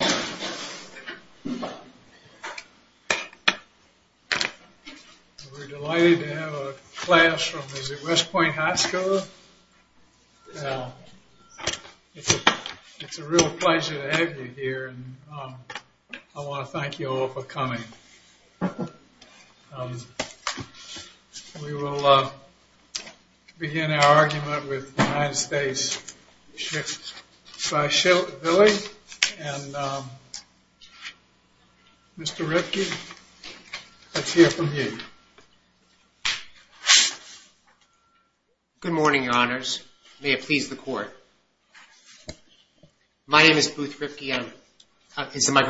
We're delighted to have a class from the West Point High School. It's a real pleasure to have you here and I want to thank you all for coming. We will begin our argument with the United States v. Chikvashvili. Mr. Ripke, let's hear from you. Good morning, Your Honors. May it please the Court. My name is Booth Ripke and it's my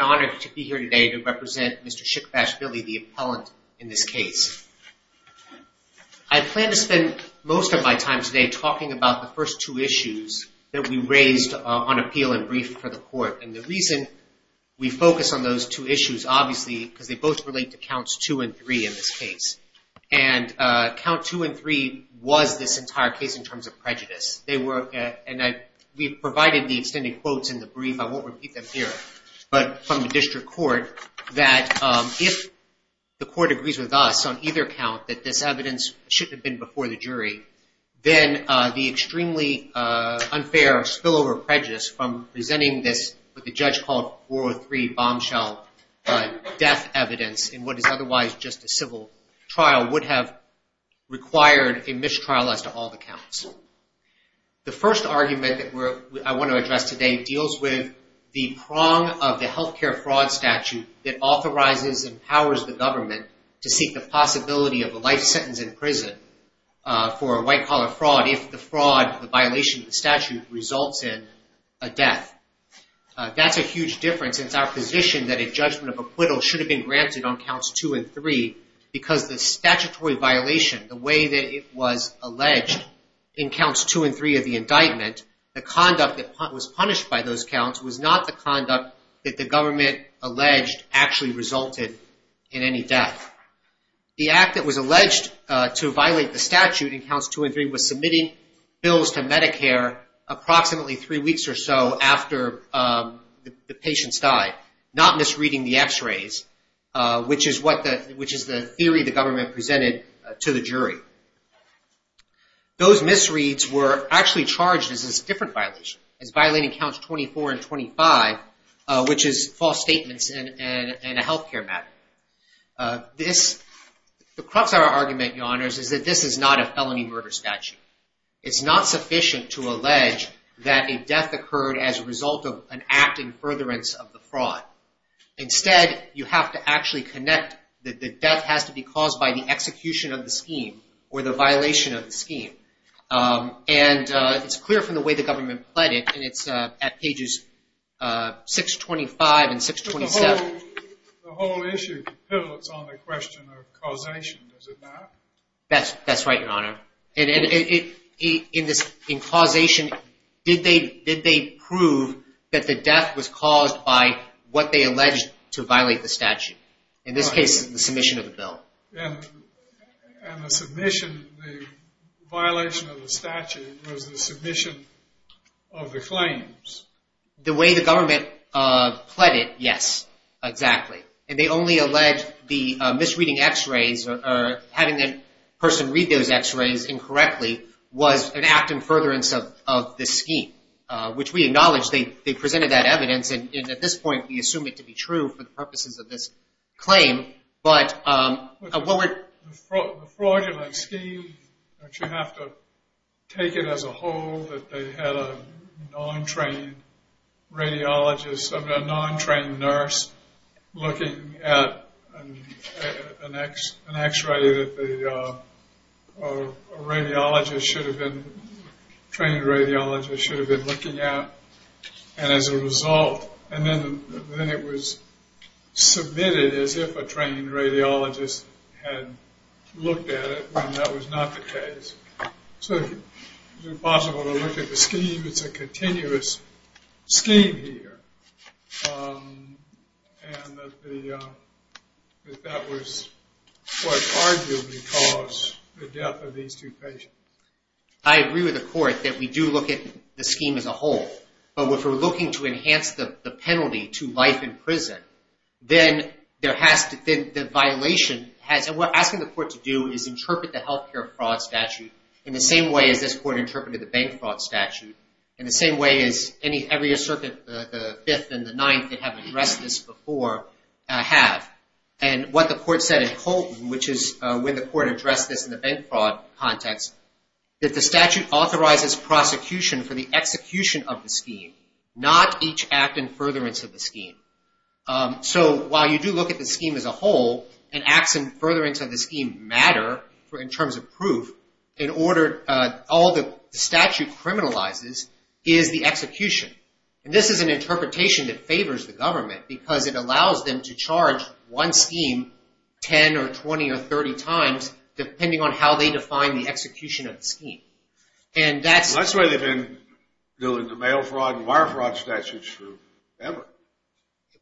honor to be here today to represent Mr. Chikvashvili, the appellant in this case. I plan to spend most of my time today talking about the first two issues that we raised on appeal and brief for the Court. And the reason we focus on those two issues, obviously, because they both relate to Counts 2 and 3 in this case. And Count 2 and 3 was this entire case in terms of prejudice. We provided the extended quotes in the brief, I won't repeat them here, but from the District Court that if the Court agrees with us on either count that this evidence shouldn't have been before the jury, then the extremely unfair spillover prejudice from presenting this with a judge called 403 bombshell death evidence in what is otherwise just a civil trial would have required a mistrial as to all the counts. The first argument that I want to address today deals with the prong of the healthcare fraud statute that authorizes and powers the government to seek the possibility of a life sentence in prison for a white collar fraud if the fraud, the violation of the statute results in a death. That's a huge difference in our position that a judgment of acquittal should have been granted on Counts 2 and 3 because the statutory violation, the way that it was alleged in Counts 2 and 3 of the indictment, the conduct that was punished by those counts was not the conduct that the government alleged actually resulted in any death. The act that was alleged to violate the statute in Counts 2 and 3 was submitting bills to Medicare approximately three weeks or so after the patients died, not misreading the x-rays, which is the theory the government presented to the jury. Those misreads were actually charged as a different violation, as violating Counts 24 and 25, which is false statements in a healthcare matter. The crux of our argument, Your Honors, is that this is not a felony murder statute. It's not sufficient to allege that a death occurred as a result of an act in furtherance of the fraud. Instead, you have to actually connect that the death has to be caused by the execution of the scheme or the violation of the scheme. And it's clear from the way the government pledged it, and it's at pages 625 and 627. The whole issue pivots on the question of causation, does it not? That's right, Your Honor. In causation, did they prove that the death was caused by what they alleged to violate the statute? In this case, the submission of the bill. And the submission, the violation of the statute was the submission of the claims. The way the government pled it, yes, exactly. And they only allege the misreading x-rays, or having the person read those x-rays incorrectly, was an act in furtherance of the scheme. Which we acknowledge, they presented that evidence, and at this point we assume it to be true for the purposes of this claim. The fraudulent scheme, that you have to take it as a whole, that they had a non-trained radiologist, a non-trained nurse, looking at an x-ray that a radiologist should have been, a trained radiologist should have been looking at. And as a result, and then it was submitted as if a trained radiologist had looked at it, when that was not the case. So it's impossible to look at the scheme, it's a continuous scheme here. And that was what arguably caused the death of these two patients. I agree with the court that we do look at the scheme as a whole. But if we're looking to enhance the penalty to life in prison, then the violation has, and what we're asking the court to do is interpret the health care fraud statute in the same way as this court interpreted the bank fraud statute. In the same way as every circuit, the 5th and the 9th that have addressed this before have. And what the court said in Colton, which is when the court addressed this in the bank fraud context, that the statute authorizes prosecution for the execution of the scheme, not each act in furtherance of the scheme. So while you do look at the scheme as a whole, and acts in furtherance of the scheme matter in terms of proof, in order, all the statute criminalizes is the execution. And this is an interpretation that favors the government, because it allows them to charge one scheme 10 or 20 or 30 times, depending on how they define the execution of the scheme. That's the way they've been doing the mail fraud and wire fraud statutes forever.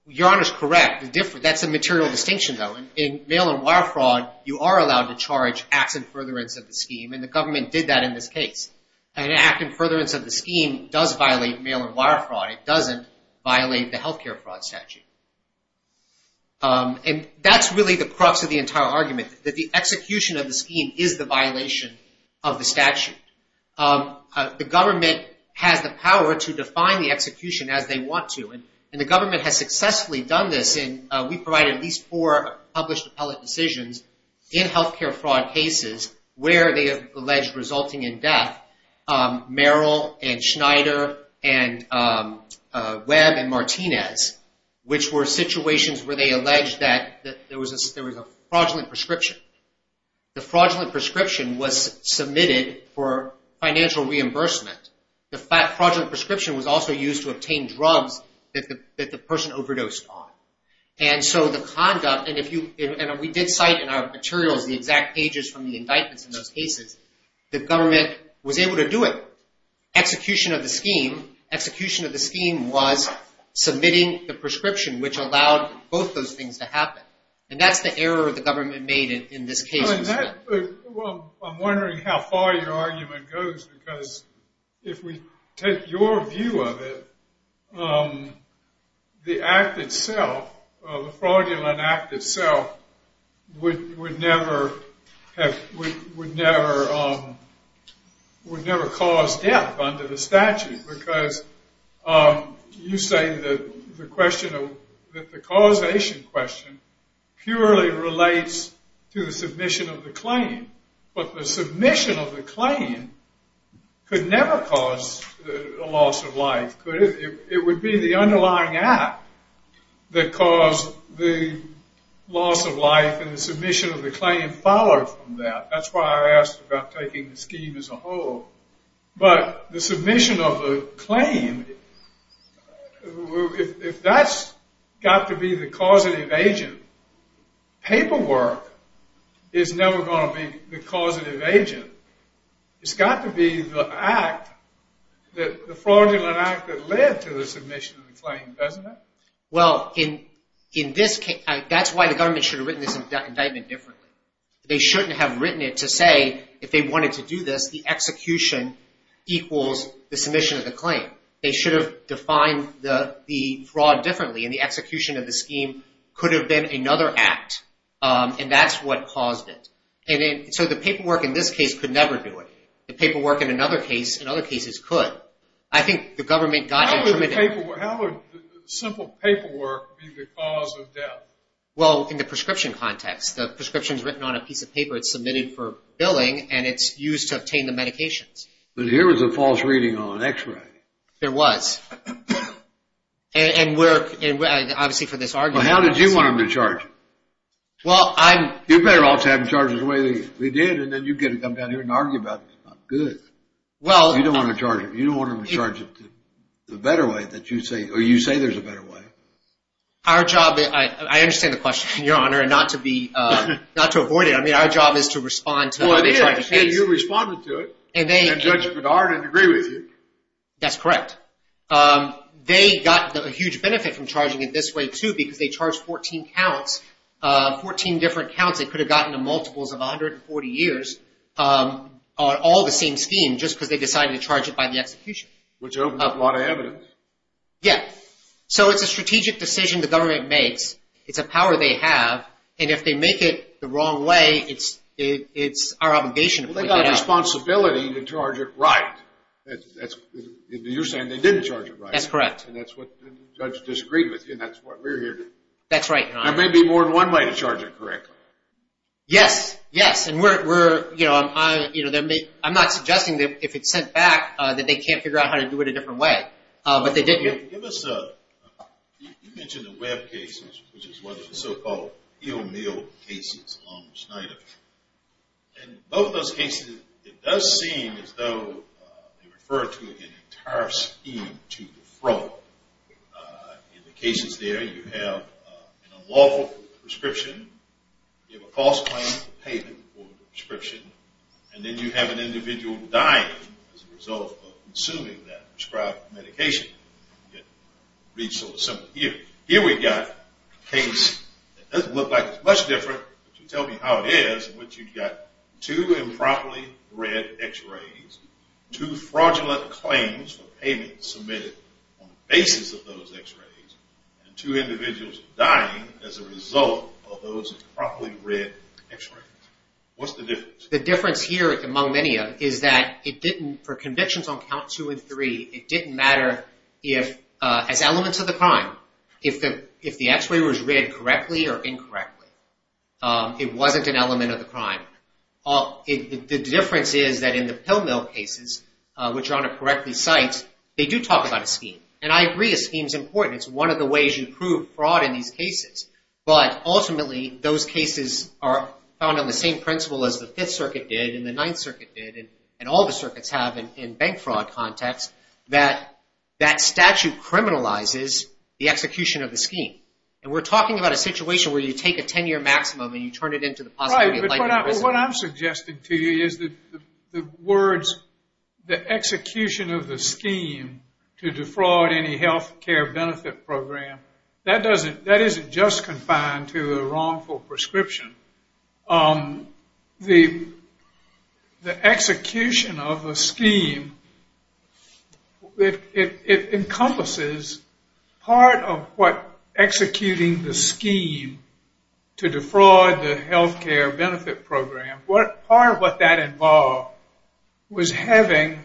Your Honor's correct. That's a material distinction, though. In mail and wire fraud, you are allowed to charge acts in furtherance of the scheme, and the government did that in this case. An act in furtherance of the scheme does violate mail and wire fraud. It doesn't violate the healthcare fraud statute. And that's really the crux of the entire argument, that the execution of the scheme is the violation of the statute. The government has the power to define the execution as they want to, and the government has successfully done this. We provided at least four published appellate decisions in healthcare fraud cases where they alleged resulting in death, Merrill and Schneider and Webb and Martinez, which were situations where they alleged that there was a fraudulent prescription. The fraudulent prescription was submitted for financial reimbursement. The fraudulent prescription was also used to obtain drugs that the person overdosed on. And so the conduct, and we did cite in our materials the exact pages from the indictments in those cases, the government was able to do it. Execution of the scheme, execution of the scheme was submitting the prescription, which allowed both those things to happen. And that's the error the government made in this case. Well, I'm wondering how far your argument goes, because if we take your view of it, the act itself, the fraudulent act itself, would never cause death under the statute. Because you say that the causation question purely relates to the submission of the claim. But the submission of the claim could never cause a loss of life, could it? It would be the underlying act that caused the loss of life, and the submission of the claim followed from that. That's why I asked about taking the scheme as a whole. But the submission of the claim, if that's got to be the causative agent, paperwork is never going to be the causative agent. It's got to be the act, the fraudulent act that led to the submission of the claim, doesn't it? Well, in this case, that's why the government should have written this indictment differently. They shouldn't have written it to say, if they wanted to do this, the execution equals the submission of the claim. They should have defined the fraud differently, and the execution of the scheme could have been another act. And that's what caused it. And so the paperwork in this case could never do it. The paperwork in another case, in other cases, could. I think the government got into it. How would simple paperwork be the cause of death? Well, in the prescription context. The prescription's written on a piece of paper. It's submitted for billing, and it's used to obtain the medications. But here was a false reading on an x-ray. There was. And obviously for this argument. Well, how did you want them to charge it? You better also have them charge it the way we did, and then you get to come down here and argue about it. It's not good. You don't want them to charge it the better way, or you say there's a better way. Our job – I understand the question, Your Honor, and not to avoid it. I mean, our job is to respond to the charge of case. Well, you responded to it, and Judge Bedard didn't agree with you. That's correct. They got a huge benefit from charging it this way, too, because they charged 14 counts, 14 different counts. It could have gotten to multiples of 140 years on all the same scheme just because they decided to charge it by the execution. Which opened up a lot of evidence. Yeah. So it's a strategic decision the government makes. It's a power they have. And if they make it the wrong way, it's our obligation to put it out. Well, they got a responsibility to charge it right. You're saying they didn't charge it right. That's correct. And that's what the judge disagreed with you, and that's what we're here to do. That's right, Your Honor. There may be more than one way to charge it correctly. Yes. Yes. I'm not suggesting that if it's sent back that they can't figure out how to do it a different way, but they did. You mentioned the Webb cases, which is one of the so-called ill-milled cases along with Schneider. In both of those cases, it does seem as though they refer to an entire scheme to defraud. In the cases there, you have an unlawful prescription. You have a false claim for payment or prescription. And then you have an individual dying as a result of consuming that prescribed medication. I'll read it sort of simply here. Here we've got a case that doesn't look like it's much different, but you tell me how it is, in which you've got two improperly read X-rays, two fraudulent claims for payment submitted on the basis of those X-rays, and two individuals dying as a result of those improperly read X-rays. What's the difference? The difference here, among many of them, is that it didn't, for convictions on Count 2 and 3, it didn't matter if, as elements of the crime, if the X-ray was read correctly or incorrectly. It wasn't an element of the crime. The difference is that in the pill-milled cases, which Your Honor correctly cites, they do talk about a scheme. And I agree a scheme's important. It's one of the ways you prove fraud in these cases. But ultimately those cases are found on the same principle as the Fifth Circuit did and the Ninth Circuit did and all the circuits have in bank fraud context, that that statute criminalizes the execution of the scheme. And we're talking about a situation where you take a 10-year maximum and you turn it into the possibility of life in prison. Well, what I'm suggesting to you is that the words, the execution of the scheme to defraud any health care benefit program, that isn't just confined to a wrongful prescription. The execution of the scheme, it encompasses part of what executing the scheme to defraud the health care benefit program, part of what that involved was having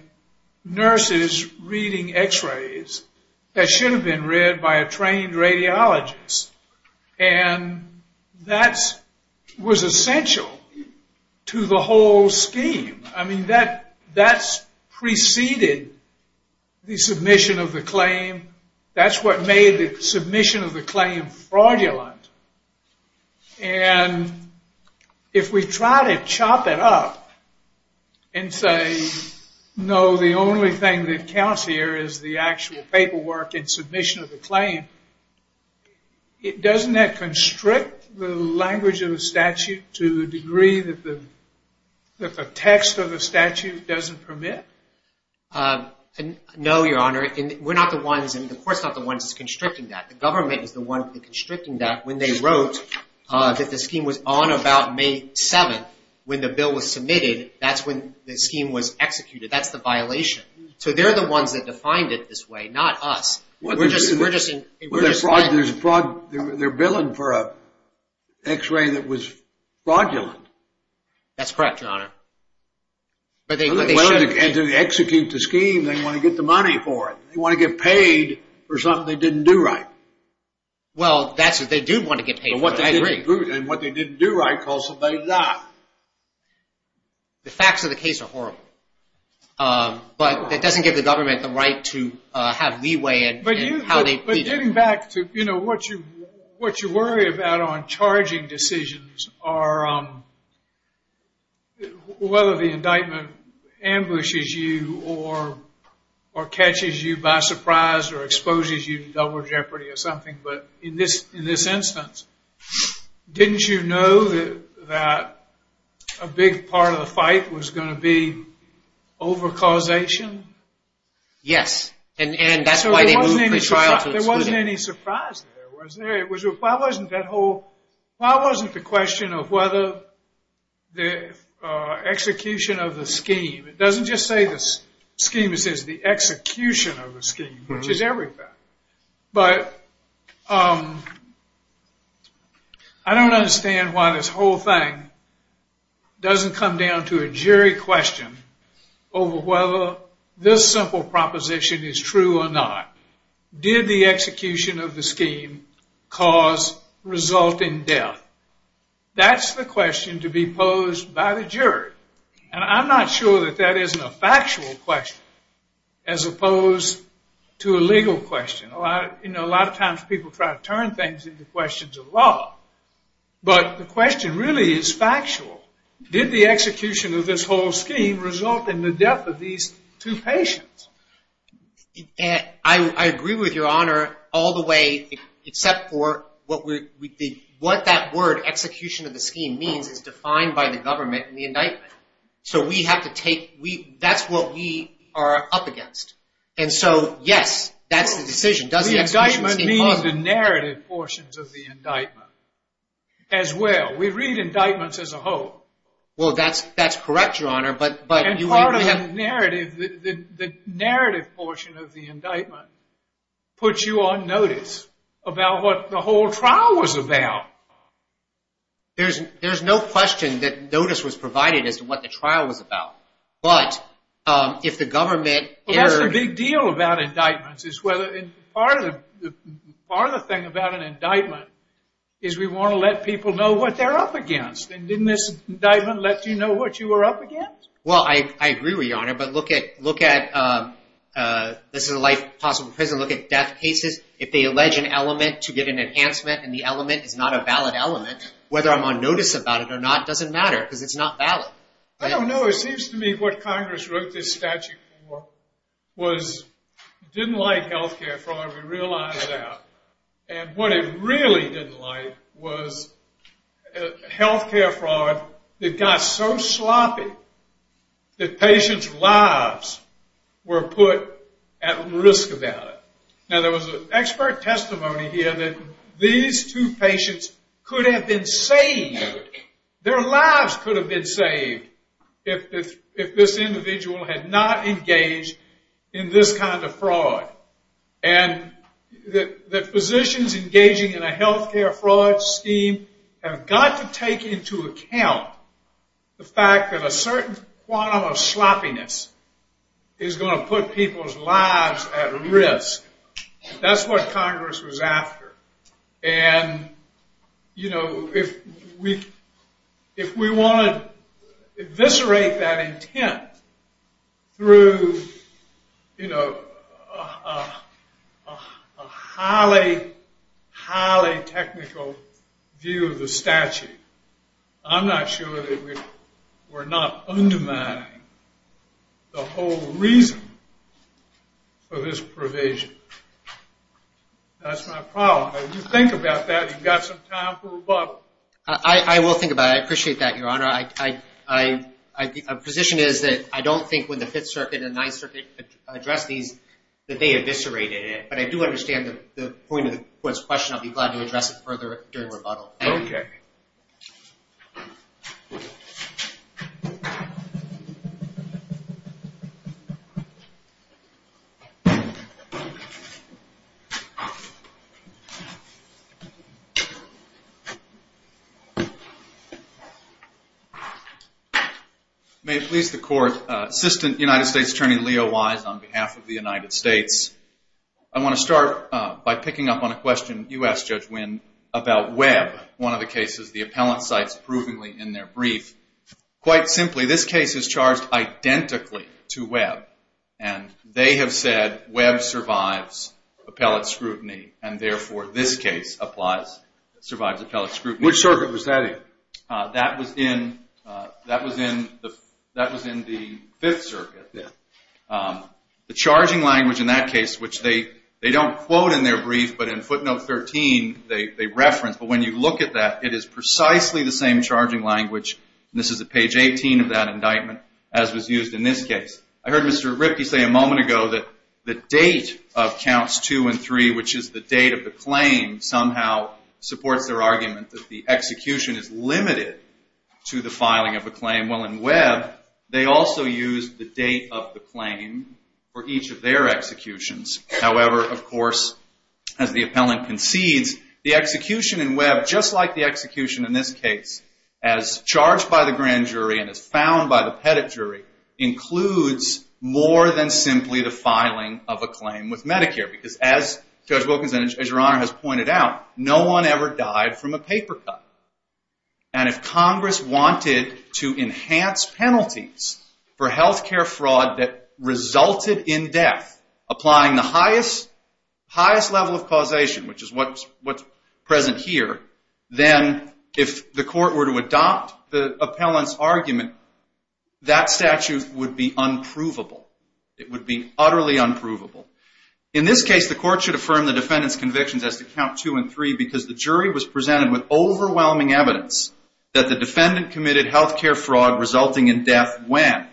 nurses reading X-rays that should have been read by a trained radiologist. And that was essential to the whole scheme. I mean, that preceded the submission of the claim. That's what made the submission of the claim fraudulent. And if we try to chop it up and say, no, the only thing that counts here is the actual paperwork and submission of the claim, doesn't that constrict the language of the statute to the degree that the text of the statute doesn't permit? No, Your Honor. We're not the ones, the court's not the ones constricting that. The government is the one constricting that. When they wrote that the scheme was on about May 7th, when the bill was submitted, that's when the scheme was executed. That's the violation. So they're the ones that defined it this way, not us. They're billing for an X-ray that was fraudulent. That's correct, Your Honor. And to execute the scheme, they want to get the money for it. They want to get paid for something they didn't do right. Well, that's what they do want to get paid for, I agree. And what they didn't do right caused somebody to die. The facts of the case are horrible. But that doesn't give the government the right to have leeway in how they plead it. But getting back to what you worry about on charging decisions are whether the indictment ambushes you or catches you by surprise or exposes you to double jeopardy or something. But in this instance, didn't you know that a big part of the fight was going to be over causation? Yes, and that's why they moved the trial to the Supreme Court. There wasn't any surprise there, was there? Why wasn't the question of whether the execution of the scheme, it doesn't just say the scheme, it says the execution of the scheme, which is everything. But I don't understand why this whole thing doesn't come down to a jury question over whether this simple proposition is true or not. Did the execution of the scheme cause resulting death? That's the question to be posed by the jury. And I'm not sure that that isn't a factual question as opposed to a legal question. A lot of times people try to turn things into questions of law. But the question really is factual. Did the execution of this whole scheme result in the death of these two patients? I agree with Your Honor all the way except for what that word, execution of the scheme, means, because it's defined by the government in the indictment. So that's what we are up against. And so, yes, that's the decision. Does the execution seem plausible? The indictment means the narrative portions of the indictment as well. We read indictments as a whole. Well, that's correct, Your Honor. And part of the narrative portion of the indictment puts you on notice about what the whole trial was about. There's no question that notice was provided as to what the trial was about. But if the government... That's the big deal about indictments. Part of the thing about an indictment is we want to let people know what they're up against. And didn't this indictment let you know what you were up against? Well, I agree with Your Honor. But look at, this is a life possible prison, look at death cases. If they allege an element to get an enhancement and the element is not a valid element, whether I'm on notice about it or not doesn't matter because it's not valid. I don't know. It seems to me what Congress wrote this statute for didn't like health care fraud, we realize that. And what it really didn't like was health care fraud that got so sloppy that patients' lives were put at risk about it. Now, there was an expert testimony here that these two patients could have been saved. Their lives could have been saved if this individual had not engaged in this kind of fraud. And the physicians engaging in a health care fraud scheme have got to take into account the fact that a certain quantum of sloppiness is going to put people's lives at risk. That's what Congress was after. And, you know, if we want to eviscerate that intent through, you know, a highly, highly technical view of the statute, I'm not sure that we're not undermining the whole reason for this provision. That's my problem. If you think about that, you've got some time for rebuttal. I will think about it. I appreciate that, Your Honor. My position is that I don't think when the Fifth Circuit and Ninth Circuit addressed these that they eviscerated it. But I do understand the point of the question. I'll be glad to address it further during rebuttal. Okay. May it please the Court, Assistant United States Attorney Leo Wise on behalf of the United States, I want to start by picking up on a question you asked, Judge Winn, about Webb, one of the cases the appellant cites provingly in their brief. Quite simply, this case is charged identically to Webb. And they have said Webb survives appellate scrutiny and, therefore, this case applies, survives appellate scrutiny. Which circuit was that in? That was in the Fifth Circuit. The charging language in that case, which they don't quote in their brief, but in footnote 13, they reference. But when you look at that, it is precisely the same charging language, and this is at page 18 of that indictment, as was used in this case. I heard Mr. Ripke say a moment ago that the date of counts two and three, which is the date of the claim, somehow supports their argument that the execution is limited to the filing of a claim. Well, in Webb, they also use the date of the claim for each of their executions. However, of course, as the appellant concedes, the execution in Webb, just like the execution in this case, as charged by the grand jury and as found by the pettit jury, includes more than simply the filing of a claim with Medicare. Because as Judge Wilkinson, as Your Honor has pointed out, no one ever died from a paper cut. And if Congress wanted to enhance penalties for health care fraud that resulted in death, applying the highest level of causation, which is what's present here, then if the court were to adopt the appellant's argument, that statute would be unprovable. It would be utterly unprovable. In this case, the court should affirm the defendant's convictions as to count two and three because the jury was presented with overwhelming evidence that the defendant committed health care fraud resulting in death when?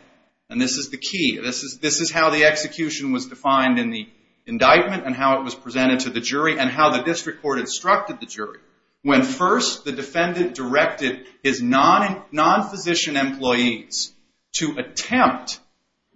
And this is the key. This is how the execution was defined in the indictment and how it was presented to the jury and how the district court instructed the jury. When first the defendant directed his non-physician employees to attempt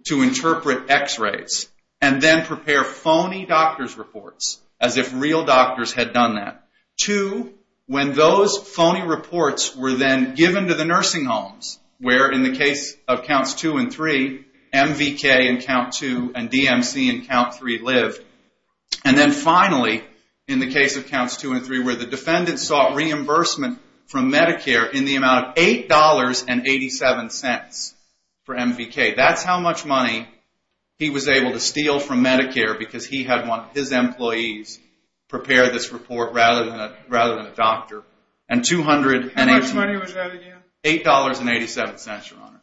to interpret x-rays and then prepare phony doctor's reports as if real doctors had done that. Two, when those phony reports were then given to the nursing homes where in the case of counts two and three, MVK in count two and DMC in count three lived. And then finally, in the case of counts two and three where the defendant sought reimbursement from Medicare in the amount of $8.87 for MVK. That's how much money he was able to steal from Medicare because he had his employees prepare this report rather than a doctor. How much money was added in? $8.87, Your Honor.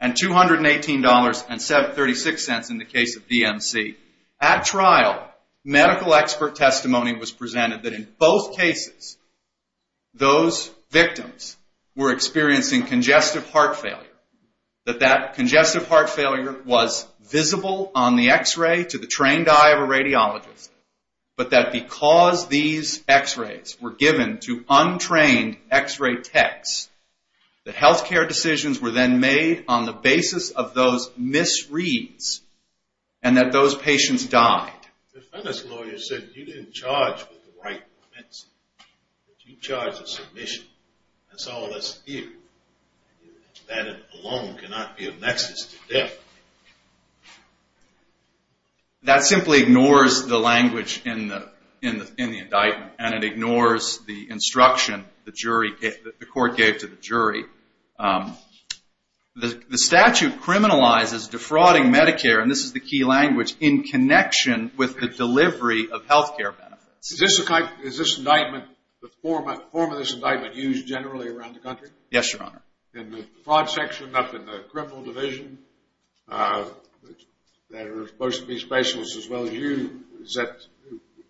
And $218.36 in the case of DMC. At trial, medical expert testimony was presented that in both cases, those victims were experiencing congestive heart failure. That that congestive heart failure was visible on the x-ray to the trained eye of a radiologist. But that because these x-rays were given to untrained x-ray techs, that health care decisions were then made on the basis of those misreads and that those patients died. The defendants lawyer said you didn't charge with the right for medicine. You charged with submission. That's all that's here. That alone cannot be a nexus to death. That simply ignores the language in the indictment. And it ignores the instruction the court gave to the jury. The statute criminalizes defrauding Medicare, and this is the key language, in connection with the delivery of health care benefits. Is this indictment, the form of this indictment, used generally around the country? Yes, Your Honor. In the fraud section up in the criminal division, that are supposed to be specialists as well as you, is that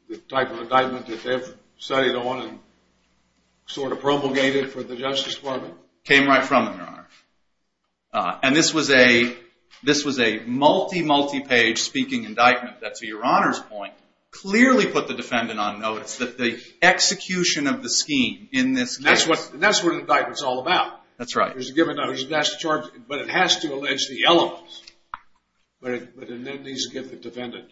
the type of indictment that they've studied on and sort of promulgated for the Justice Department? Came right from them, Your Honor. And this was a multi-, multi-page speaking indictment that, to Your Honor's point, clearly put the defendant on notice that the execution of the scheme in this case. And that's what an indictment's all about. That's right. There's a given, there's a national charge, but it has to allege the elements. But it needs to give the defendant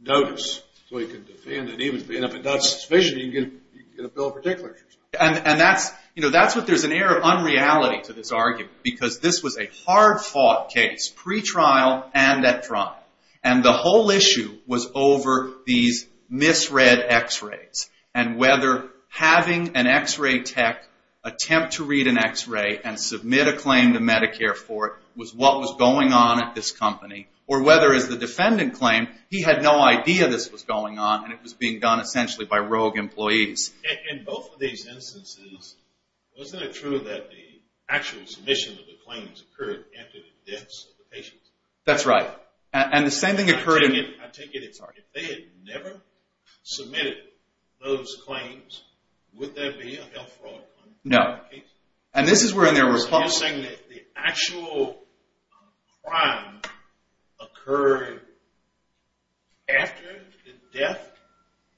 notice so he can defend. And even if it's not sufficient, you can get a bill of particulars. And that's, you know, that's what there's an air of unreality to this argument, because this was a hard-fought case, pretrial and at trial. And the whole issue was over these misread x-rays and whether having an x-ray tech attempt to read an x-ray and submit a claim to Medicare for it was what was going on at this company, or whether, as the defendant claimed, he had no idea this was going on and it was being done essentially by rogue employees. In both of these instances, wasn't it true that the actual submission of the claims occurred after the deaths of the patients? That's right. And the same thing occurred in... I take it if they had never submitted those claims, would there be a health fraud? No. And this is where there was... So you're saying that the actual crime occurred after the death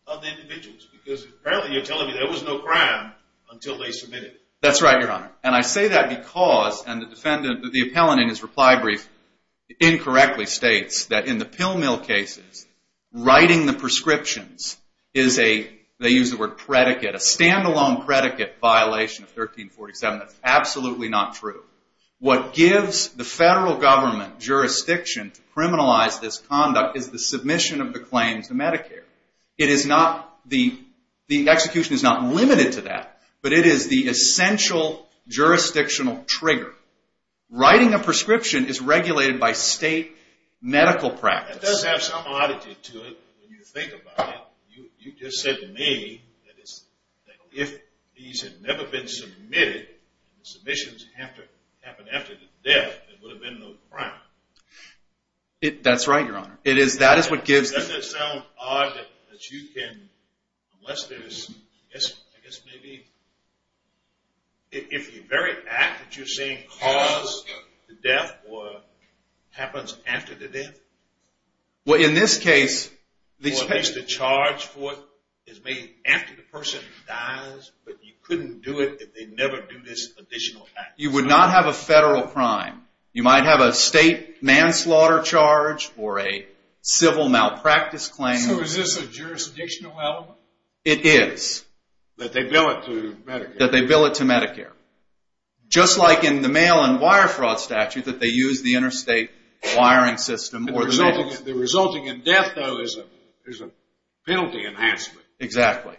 of the individuals, because apparently you're telling me there was no crime until they submitted it. That's right, Your Honor. And I say that because, and the defendant, the appellant in his reply brief, incorrectly states that in the pill mill cases, writing the prescriptions is a, they use the word predicate, a stand-alone predicate violation of 1347. That's absolutely not true. What gives the federal government jurisdiction to criminalize this conduct is the submission of the claims to Medicare. The execution is not limited to that, but it is the essential jurisdictional trigger. Writing a prescription is regulated by state medical practice. That does have some oddity to it when you think about it. You just said to me that if these had never been submitted, the submissions happened after the death, there would have been no crime. That's right, Your Honor. Doesn't it sound odd that you can, unless there is, I guess maybe, if the very act that you're saying caused the death or happens after the death, or at least the charge for it is made after the person dies, but you couldn't do it if they never do this additional act. You would not have a federal crime. You might have a state manslaughter charge or a civil malpractice claim. So is this a jurisdictional element? It is. That they bill it to Medicare. That they bill it to Medicare. Just like in the mail and wire fraud statute that they use the interstate wiring system. The resulting in death, though, is a penalty enhancement. Exactly.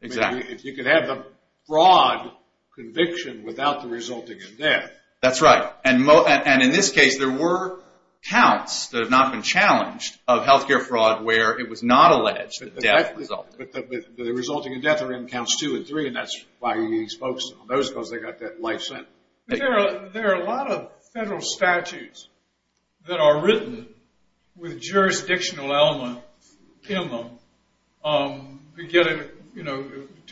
Exactly. If you could have the fraud conviction without the resulting in death. That's right. And in this case, there were counts that have not been challenged of health care fraud where it was not alleged that death resulted. But the resulting in death are in counts two and three, and that's why you need to focus on those because they've got that life sentence. There are a lot of federal statutes that are written with jurisdictional elements in them to get it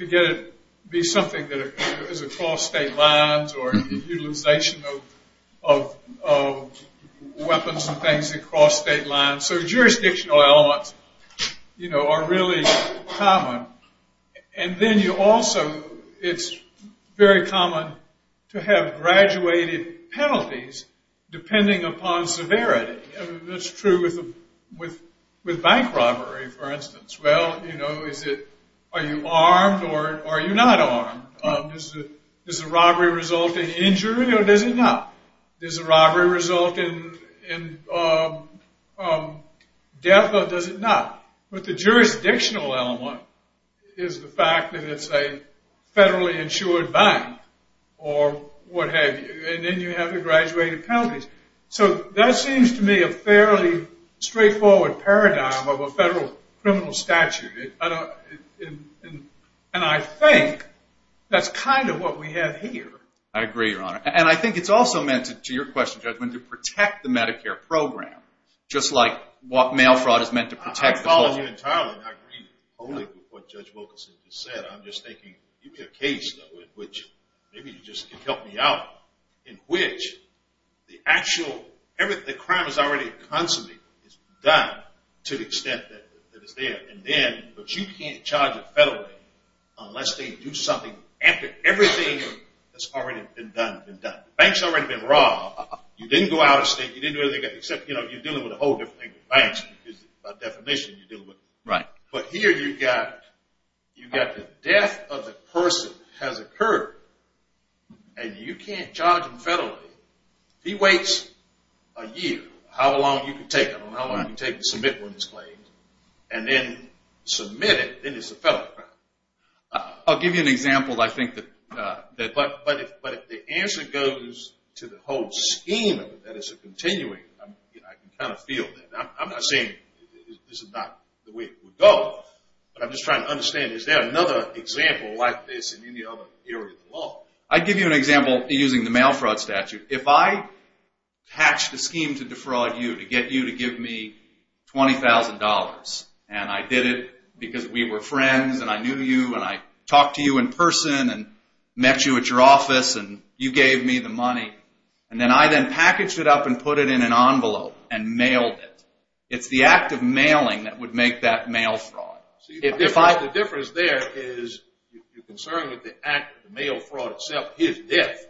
to be something that is across state lines or utilization of weapons and things across state lines. So jurisdictional elements are really common. And then you also, it's very common to have graduated penalties depending upon severity. Are you armed or are you not armed? Does the robbery result in injury or does it not? Does the robbery result in death or does it not? But the jurisdictional element is the fact that it's a federally insured bank or what have you. And then you have the graduated penalties. So that seems to me a fairly straightforward paradigm of a federal criminal statute. And I think that's kind of what we have here. I agree, Your Honor. And I think it's also meant, to your question, Judge, to protect the Medicare program, just like mail fraud is meant to protect the public. I follow you entirely, and I agree wholly with what Judge Wilkinson just said. I'm just thinking, give me a case, though, in which maybe you just can help me out, in which the actual, everything, the crime is already consummated, it's done to the extent that it's there. And then, but you can't charge it federally unless they do something, after everything that's already been done has been done. The bank's already been robbed. You didn't go out of state. You didn't do anything except, you know, you're dealing with a whole different thing than banks, because by definition you're dealing with banks. Right. But here you've got the death of the person has occurred, and you can't charge him federally. He waits a year, how long you can take him, how long you can take to submit one of his claims, and then submit it, then it's a federal crime. I'll give you an example, I think. But if the answer goes to the whole scheme of it, that it's a continuing, I can kind of feel that. I'm not saying this is not the way it would go, but I'm just trying to understand, is there another example like this in any other area of the law? I'd give you an example using the mail fraud statute. If I hatched a scheme to defraud you to get you to give me $20,000, and I did it because we were friends and I knew you and I talked to you in person and met you at your office and you gave me the money, and then I then packaged it up and put it in an envelope and mailed it. It's the act of mailing that would make that mail fraud. The difference there is you're concerned with the act, the mail fraud itself, his death.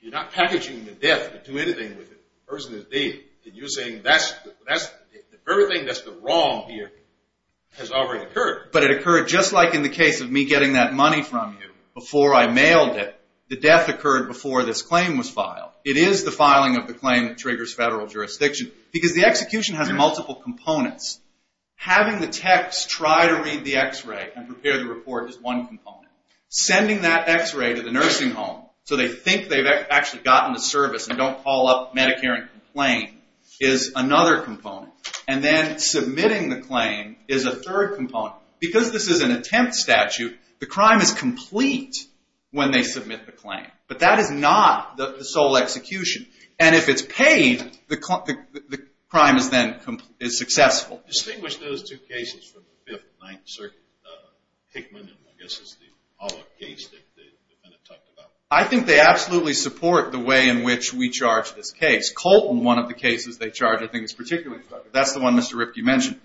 You're not packaging the death to do anything with the person's deed. You're saying everything that's wrong here has already occurred. But it occurred just like in the case of me getting that money from you before I mailed it. The death occurred before this claim was filed. It is the filing of the claim that triggers federal jurisdiction because the execution has multiple components. Having the techs try to read the x-ray and prepare the report is one component. Sending that x-ray to the nursing home so they think they've actually gotten the service and don't call up Medicare and complain is another component. And then submitting the claim is a third component. Because this is an attempt statute, the crime is complete when they submit the claim. But that is not the sole execution. And if it's paid, the crime is then successful. Distinguish those two cases from the Fifth, Ninth Circuit, Hickman, and I guess it's the Pollock case that you're going to talk about. I think they absolutely support the way in which we charge this case. Colton, one of the cases they charge, I think is particularly important. That's the one Mr. Ripkey mentioned.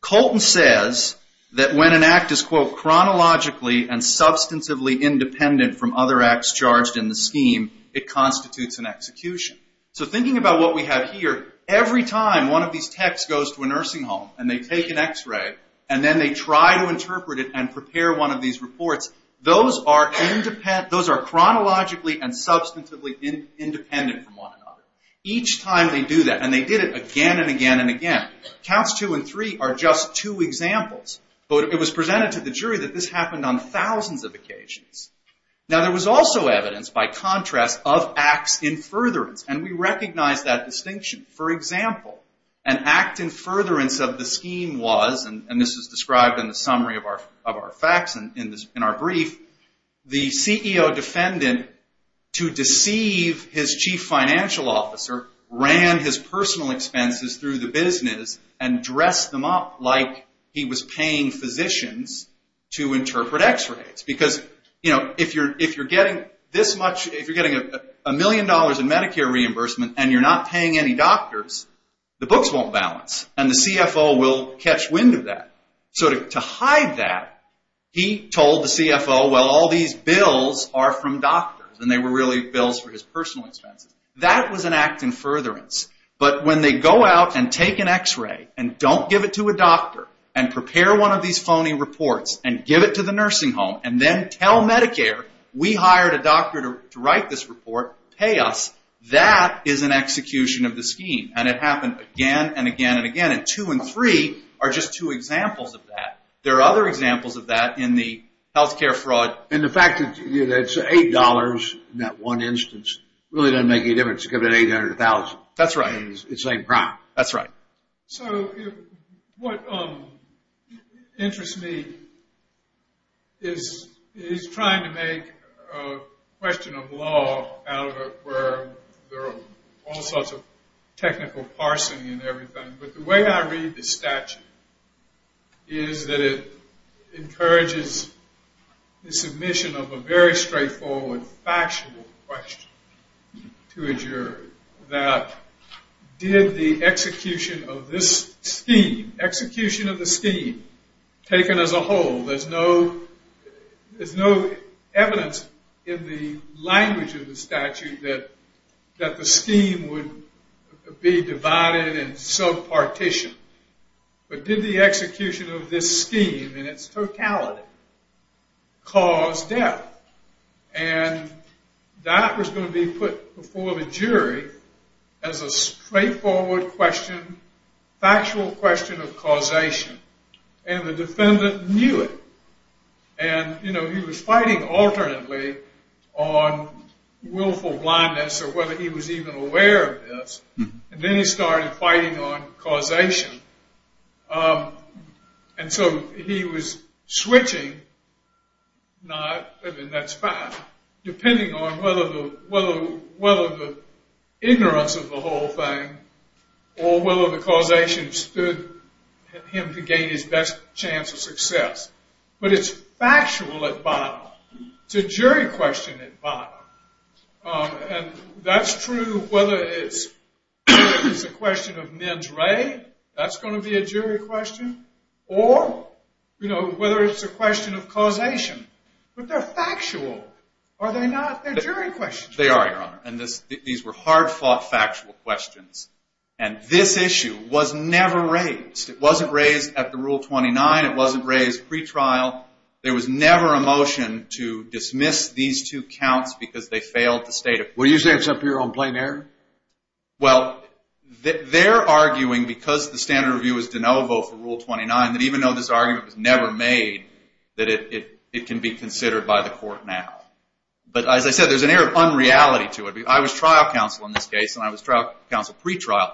Colton says that when an act is, quote, chronologically and substantively independent from other acts charged in the scheme, it constitutes an execution. So thinking about what we have here, every time one of these techs goes to a nursing home and they take an x-ray and then they try to interpret it and prepare one of these reports, those are chronologically and substantively independent from one another. Counts two and three are just two examples. But it was presented to the jury that this happened on thousands of occasions. Now, there was also evidence by contrast of acts in furtherance, and we recognize that distinction. For example, an act in furtherance of the scheme was, and this is described in the summary of our facts in our brief, the CEO defendant, to deceive his chief financial officer, ran his personal expenses through the business, and dressed them up like he was paying physicians to interpret x-rays. Because if you're getting this much, if you're getting a million dollars in Medicare reimbursement and you're not paying any doctors, the books won't balance, and the CFO will catch wind of that. So to hide that, he told the CFO, well, all these bills are from doctors, and they were really bills for his personal expenses. That was an act in furtherance. But when they go out and take an x-ray and don't give it to a doctor and prepare one of these phony reports and give it to the nursing home and then tell Medicare, we hired a doctor to write this report, pay us, that is an execution of the scheme. And it happened again and again and again. And two and three are just two examples of that. There are other examples of that in the health care fraud. And the fact that it's $8 in that one instance really doesn't make any difference. Give it $800,000. That's right. It's the same crime. That's right. So what interests me is trying to make a question of law out of it where there are all sorts of technical parsing and everything. But the way I read the statute is that it encourages the submission of a very straightforward, factual question to a jury that did the execution of this scheme, execution of the scheme, taken as a whole. There's no evidence in the language of the statute that the scheme would be divided and sub-partitioned. But did the execution of this scheme in its totality cause death? And that was going to be put before the jury as a straightforward question, factual question of causation. And the defendant knew it. And, you know, he was fighting alternately on willful blindness or whether he was even aware of this. And then he started fighting on causation. And so he was switching not, I mean, that's fine, depending on whether the ignorance of the whole thing or whether the causation stood him to gain his best chance of success. But it's factual at bottom. It's a jury question at bottom. And that's true whether it's a question of mens re. That's going to be a jury question. Or, you know, whether it's a question of causation. But they're factual. Are they not? They're jury questions. They are, Your Honor. And these were hard-fought factual questions. And this issue was never raised. It wasn't raised at the Rule 29. It wasn't raised pretrial. There was never a motion to dismiss these two counts because they failed to state it. Were you saying it's up here on plain error? Well, they're arguing, because the standard review is de novo for Rule 29, that even though this argument was never made, that it can be considered by the court now. But, as I said, there's an air of unreality to it. I was trial counsel in this case, and I was trial counsel pretrial.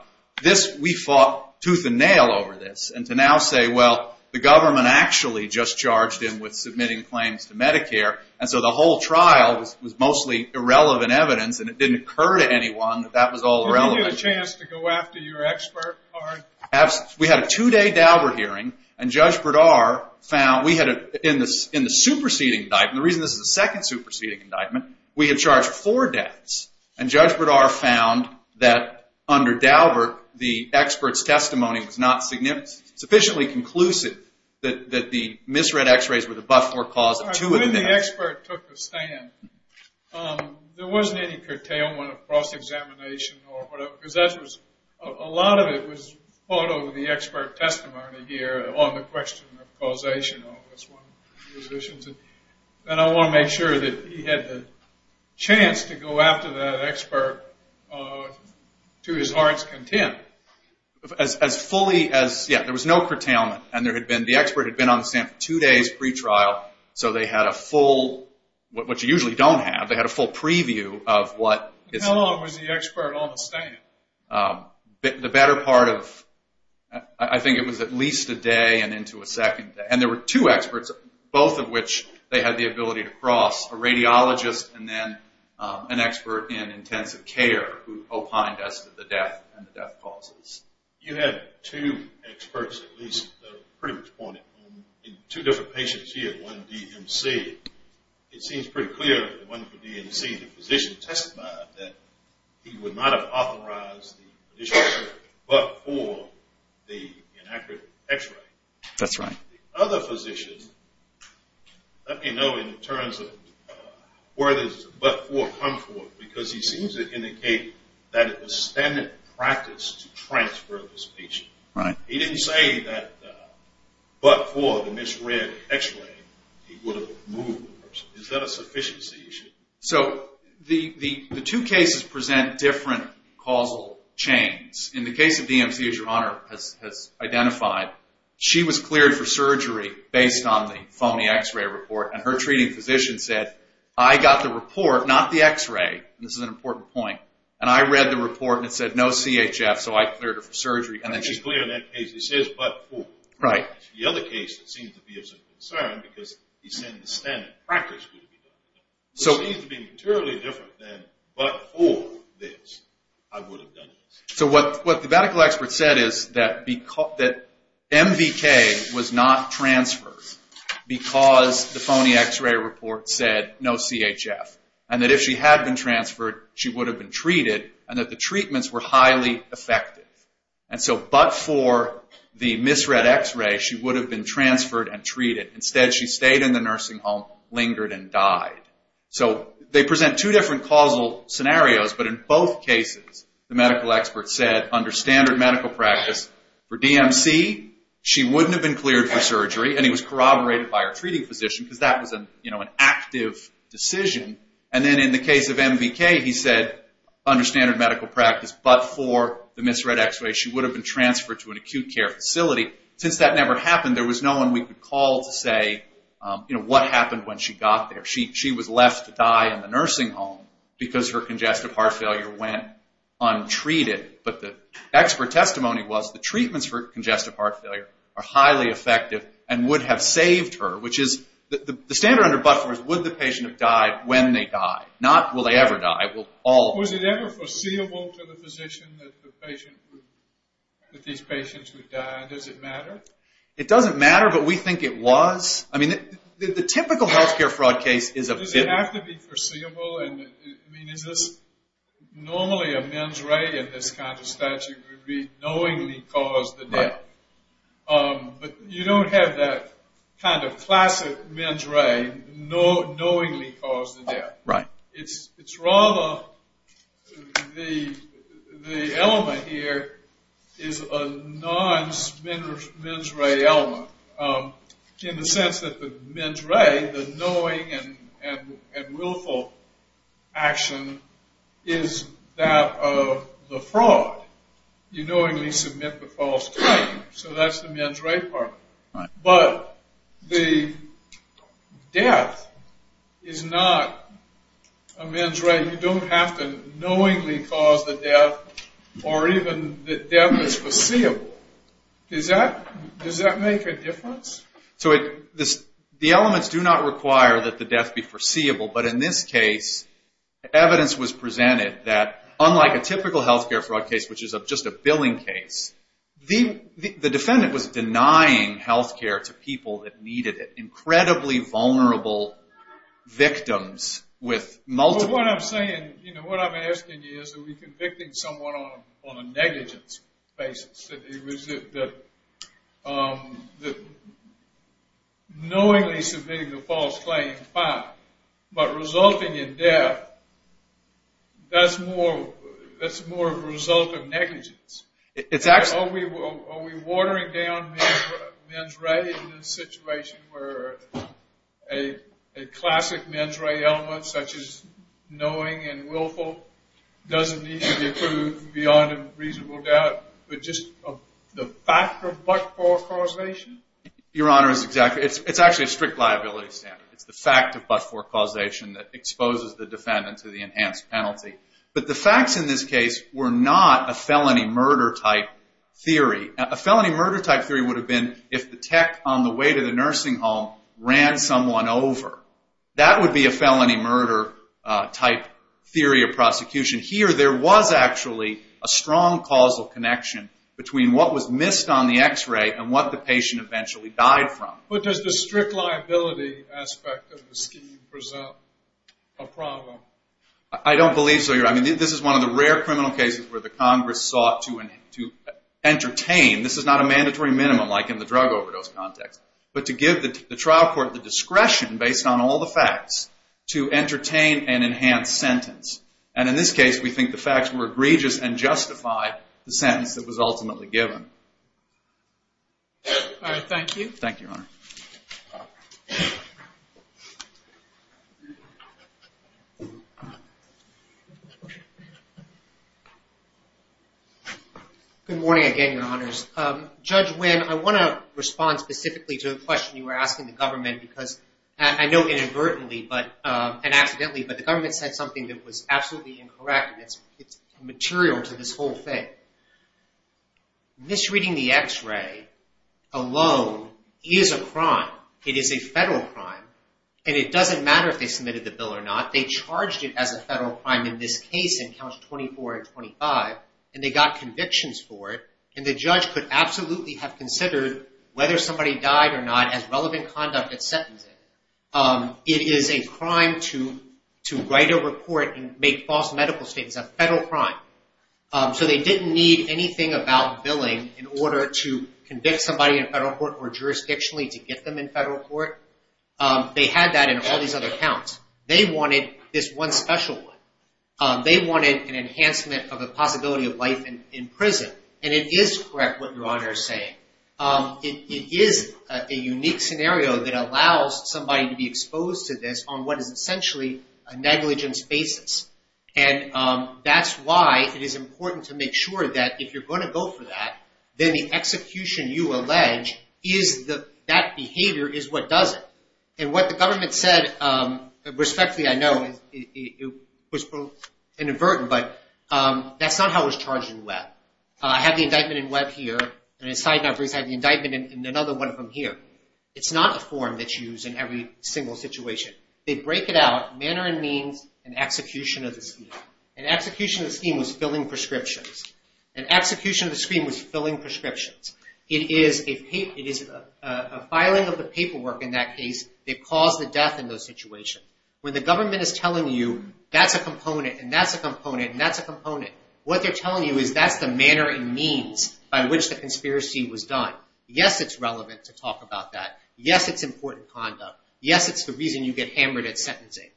We fought tooth and nail over this. And to now say, well, the government actually just charged him with submitting claims to Medicare. And so the whole trial was mostly irrelevant evidence, and it didn't occur to anyone that that was all relevant. Did you get a chance to go after your expert, Arne? Absolutely. We had a two-day Daubert hearing, and Judge Bredaert found we had, in the superseding indictment, the reason this is the second superseding indictment, we had charged four deaths. And Judge Bredaert found that, under Daubert, the expert's testimony was not sufficiently conclusive that the misread x-rays were the but-for cause of two of the deaths. When the expert took the stand, there wasn't any curtailment of cross-examination or whatever, because a lot of it was fought over the expert testimony here on the question of causation. That's one of the positions. And I want to make sure that he had the chance to go after that expert to his heart's content. As fully as... yeah, there was no curtailment, and the expert had been on the stand for two days pre-trial, so they had a full... what you usually don't have, they had a full preview of what... How long was the expert on the stand? The better part of... I think it was at least a day and into a second day. And there were two experts, both of which they had the ability to cross, a radiologist and then an expert in intensive care who opined as to the death and the death causes. You had two experts at least that were pretty much pointed. Two different patients here, one DMC. It seems pretty clear that the one for DMC, the physician testified that he would not have authorized the physician but for the inaccurate x-ray. That's right. The other physician, let me know in terms of where this but-for comes from because he seems to indicate that it was standard practice to transfer this patient. He didn't say that but-for, the misread x-ray, he would have removed the person. Is that a sufficiency issue? So the two cases present different causal chains. In the case of DMC, as Your Honor has identified, she was cleared for surgery based on the phony x-ray report, and her treating physician said, I got the report, not the x-ray, and this is an important point, and I read the report and it said no CHF, so I cleared her for surgery. I think she's clear in that case. It says but-for. Right. The other case that seems to be of some concern because he's saying the standard practice would be different. It seems to be materially different than but-for this. I would have done it. So what the medical expert said is that MVK was not transferred because the phony x-ray report said no CHF, and that if she had been transferred, she would have been treated, and that the treatments were highly effective. And so but-for the misread x-ray, she would have been transferred and treated. Instead, she stayed in the nursing home, lingered, and died. So they present two different causal scenarios, but in both cases, the medical expert said, under standard medical practice, for DMC, she wouldn't have been cleared for surgery, and he was corroborated by her treating physician because that was an active decision. And then in the case of MVK, he said, under standard medical practice, but-for the misread x-ray, she would have been transferred to an acute care facility. Since that never happened, there was no one we could call to say what happened when she got there. She was left to die in the nursing home because her congestive heart failure went untreated. But the expert testimony was the treatments for congestive heart failure are highly effective and would have saved her, which is the standard under but-for is would the patient have died when they died, not will they ever die. Was it ever foreseeable to the physician that these patients would die, and does it matter? It doesn't matter, but we think it was. I mean, the typical health care fraud case is a- Does it have to be foreseeable? I mean, is this-normally a men's ray in this kind of statute would be knowingly cause the death. Right. But you don't have that kind of classic men's ray knowingly cause the death. Right. It's rather-the element here is a non-men's ray element in the sense that the men's ray, the knowing and willful action, is that of the fraud. You knowingly submit the false claim, so that's the men's ray part. Right. But the death is not a men's ray. You don't have to knowingly cause the death or even that death is foreseeable. Does that make a difference? So the elements do not require that the death be foreseeable, but in this case evidence was presented that unlike a typical health care fraud case, which is just a billing case, the defendant was denying health care to people that needed it, incredibly vulnerable victims with multiple- So what I'm saying, what I'm asking you is are we convicting someone on a negligence basis, that knowingly submitting the false claim, fine, but resulting in death, that's more of a result of negligence. It's actually- Are we watering down men's ray in a situation where a classic men's ray element such as knowing and willful doesn't need to be approved beyond a reasonable doubt, but just the fact of but-for causation? Your Honor, it's actually a strict liability standard. It's the fact of but-for causation that exposes the defendant to the enhanced penalty. But the facts in this case were not a felony murder-type theory. A felony murder-type theory would have been if the tech on the way to the nursing home ran someone over. That would be a felony murder-type theory of prosecution. Here there was actually a strong causal connection between what was missed on the x-ray and what the patient eventually died from. But does the strict liability aspect of the scheme present a problem? I don't believe so, Your Honor. I mean, this is one of the rare criminal cases where the Congress sought to entertain. This is not a mandatory minimum like in the drug overdose context. But to give the trial court the discretion based on all the facts to entertain an enhanced sentence. And in this case, we think the facts were egregious and justified the sentence that was ultimately given. All right, thank you. Thank you, Your Honor. Good morning again, Your Honors. Judge Nguyen, I want to respond specifically to the question you were asking the government. Because I know inadvertently and accidentally, but the government said something that was absolutely incorrect. And it's material to this whole thing. Misreading the x-ray alone is a crime. It is a federal crime. And it doesn't matter if they submitted the bill or not. They charged it as a federal crime in this case in counts 24 and 25. And they got convictions for it. And the judge could absolutely have considered whether somebody died or not as relevant conduct at sentencing. It is a crime to write a report and make false medical statements. It's a federal crime. So they didn't need anything about billing in order to convict somebody in federal court or jurisdictionally to get them in federal court. They had that in all these other counts. They wanted this one special one. They wanted an enhancement of the possibility of life in prison. And it is correct what Your Honor is saying. It is a unique scenario that allows somebody to be exposed to this on what is essentially a negligence basis. And that's why it is important to make sure that if you're going to go for that, then the execution you allege is that that behavior is what does it. And what the government said, respectfully I know, it was inadvertent, but that's not how it was charged in Webb. I have the indictment in Webb here. And I have the indictment in another one of them here. It's not a form that's used in every single situation. They break it out, manner and means, and execution of the scheme. And execution of the scheme was filling prescriptions. And execution of the scheme was filling prescriptions. It is a filing of the paperwork in that case that caused the death in those situations. When the government is telling you that's a component and that's a component and that's a component, what they're telling you is that's the manner and means by which the conspiracy was done. Yes, it's relevant to talk about that. Yes, it's important conduct. Yes, it's the reason you get hammered at sentencing.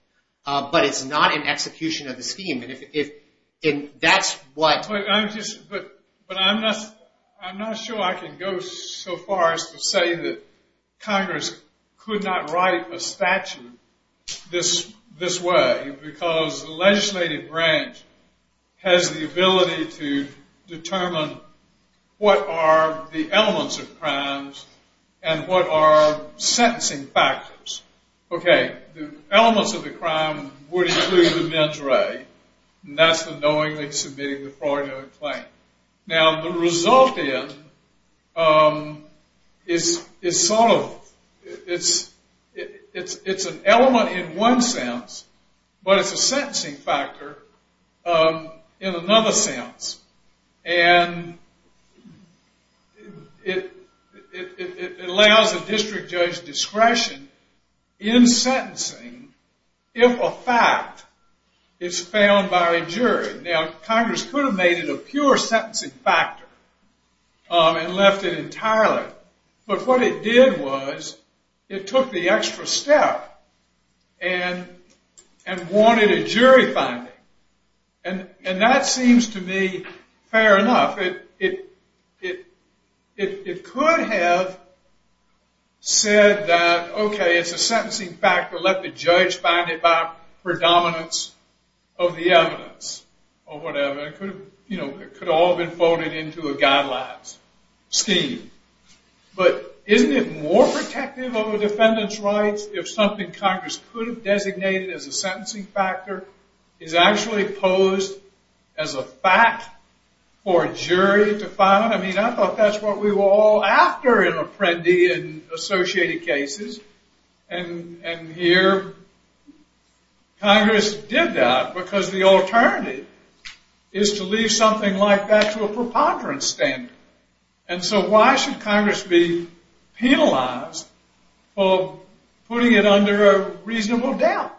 But it's not an execution of the scheme. But I'm not sure I can go so far as to say that Congress could not write a statute this way because the legislative branch has the ability to determine what are the elements of crimes and what are sentencing factors. Okay, the elements of the crime would include the mens re, and that's the knowingly submitting the fraudulent claim. Now, the result in is sort of, it's an element in one sense, but it's a sentencing factor in another sense. And it allows a district judge discretion in sentencing if a fact is found by a jury. Now, Congress could have made it a pure sentencing factor and left it entirely. But what it did was it took the extra step and wanted a jury finding. And that seems to me fair enough. It could have said that, okay, it's a sentencing factor. Let the judge find it by predominance of the evidence or whatever. It could have all been folded into a guidelines scheme. But isn't it more protective of a defendant's rights if something Congress could have designated as a sentencing factor is actually posed as a fact for a jury to find? I mean, I thought that's what we were all after in Apprendi and associated cases. And here Congress did that because the alternative is to leave something like that to a preponderance standard. And so why should Congress be penalized for putting it under a reasonable doubt?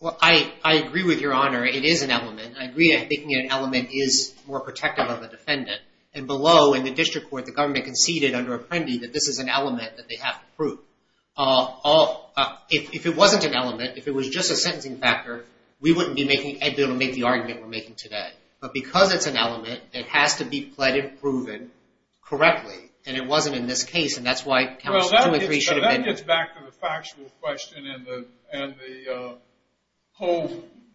Well, I agree with Your Honor. It is an element. I agree that making it an element is more protective of a defendant. And below, in the district court, the government conceded under Apprendi that this is an element that they have to prove. If it wasn't an element, if it was just a sentencing factor, we wouldn't be able to make the argument we're making today. But because it's an element, it has to be pled and proven correctly. And it wasn't in this case, and that's why Congress 2 and 3 should have been. Well, that gets back to the factual question and the whole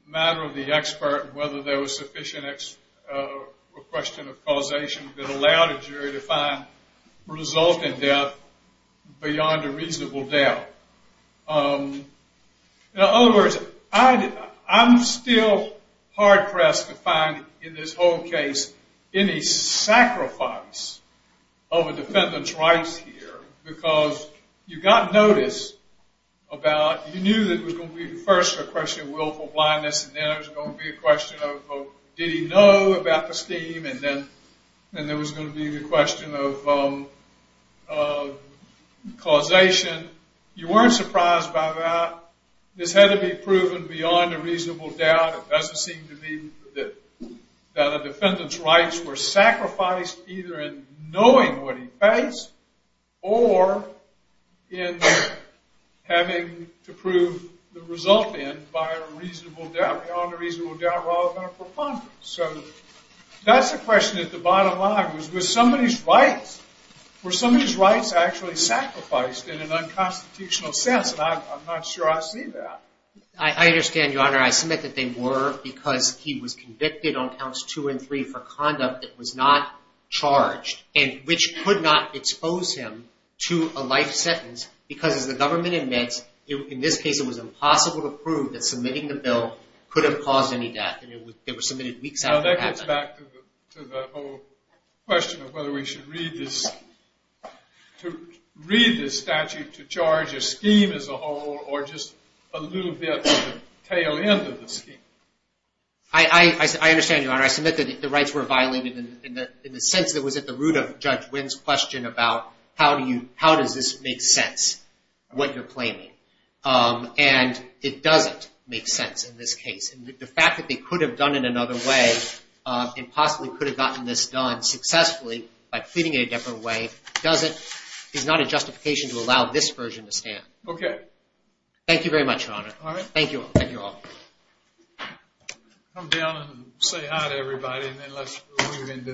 matter of the expert and whether there was sufficient question of causation that allowed a jury to find result in death beyond a reasonable doubt. In other words, I'm still hard pressed to find in this whole case any sacrifice of a defendant's rights here because you got notice about, you knew that it was going to be first a question of willful blindness and then it was going to be a question of did he know about the scheme and then there was going to be the question of causation. You weren't surprised by that. This had to be proven beyond a reasonable doubt. It doesn't seem to me that the defendant's rights were sacrificed either in knowing what he faced or in having to prove the result in by a reasonable doubt, beyond a reasonable doubt rather than a preponderance. So that's the question at the bottom line was, were somebody's rights actually sacrificed in an unconstitutional sense? And I'm not sure I see that. I understand, Your Honor. I submit that they were because he was convicted on counts 2 and 3 for conduct that was not charged and which could not expose him to a life sentence because as the government admits, in this case it was impossible to prove that submitting the bill could have caused any death. Now that gets back to the whole question of whether we should read this statute to charge a scheme as a whole or just a little bit of the tail end of the scheme. I understand, Your Honor. I submit that the rights were violated in the sense that it was at the root of Judge Wynn's question about how does this make sense, what you're claiming. And it doesn't make sense in this case. The fact that they could have done it another way and possibly could have gotten this done successfully by pleading it a different way is not a justification to allow this version to stand. Okay. Thank you very much, Your Honor. All right. Thank you all. Come down and say hi to everybody and then let's move into that next case.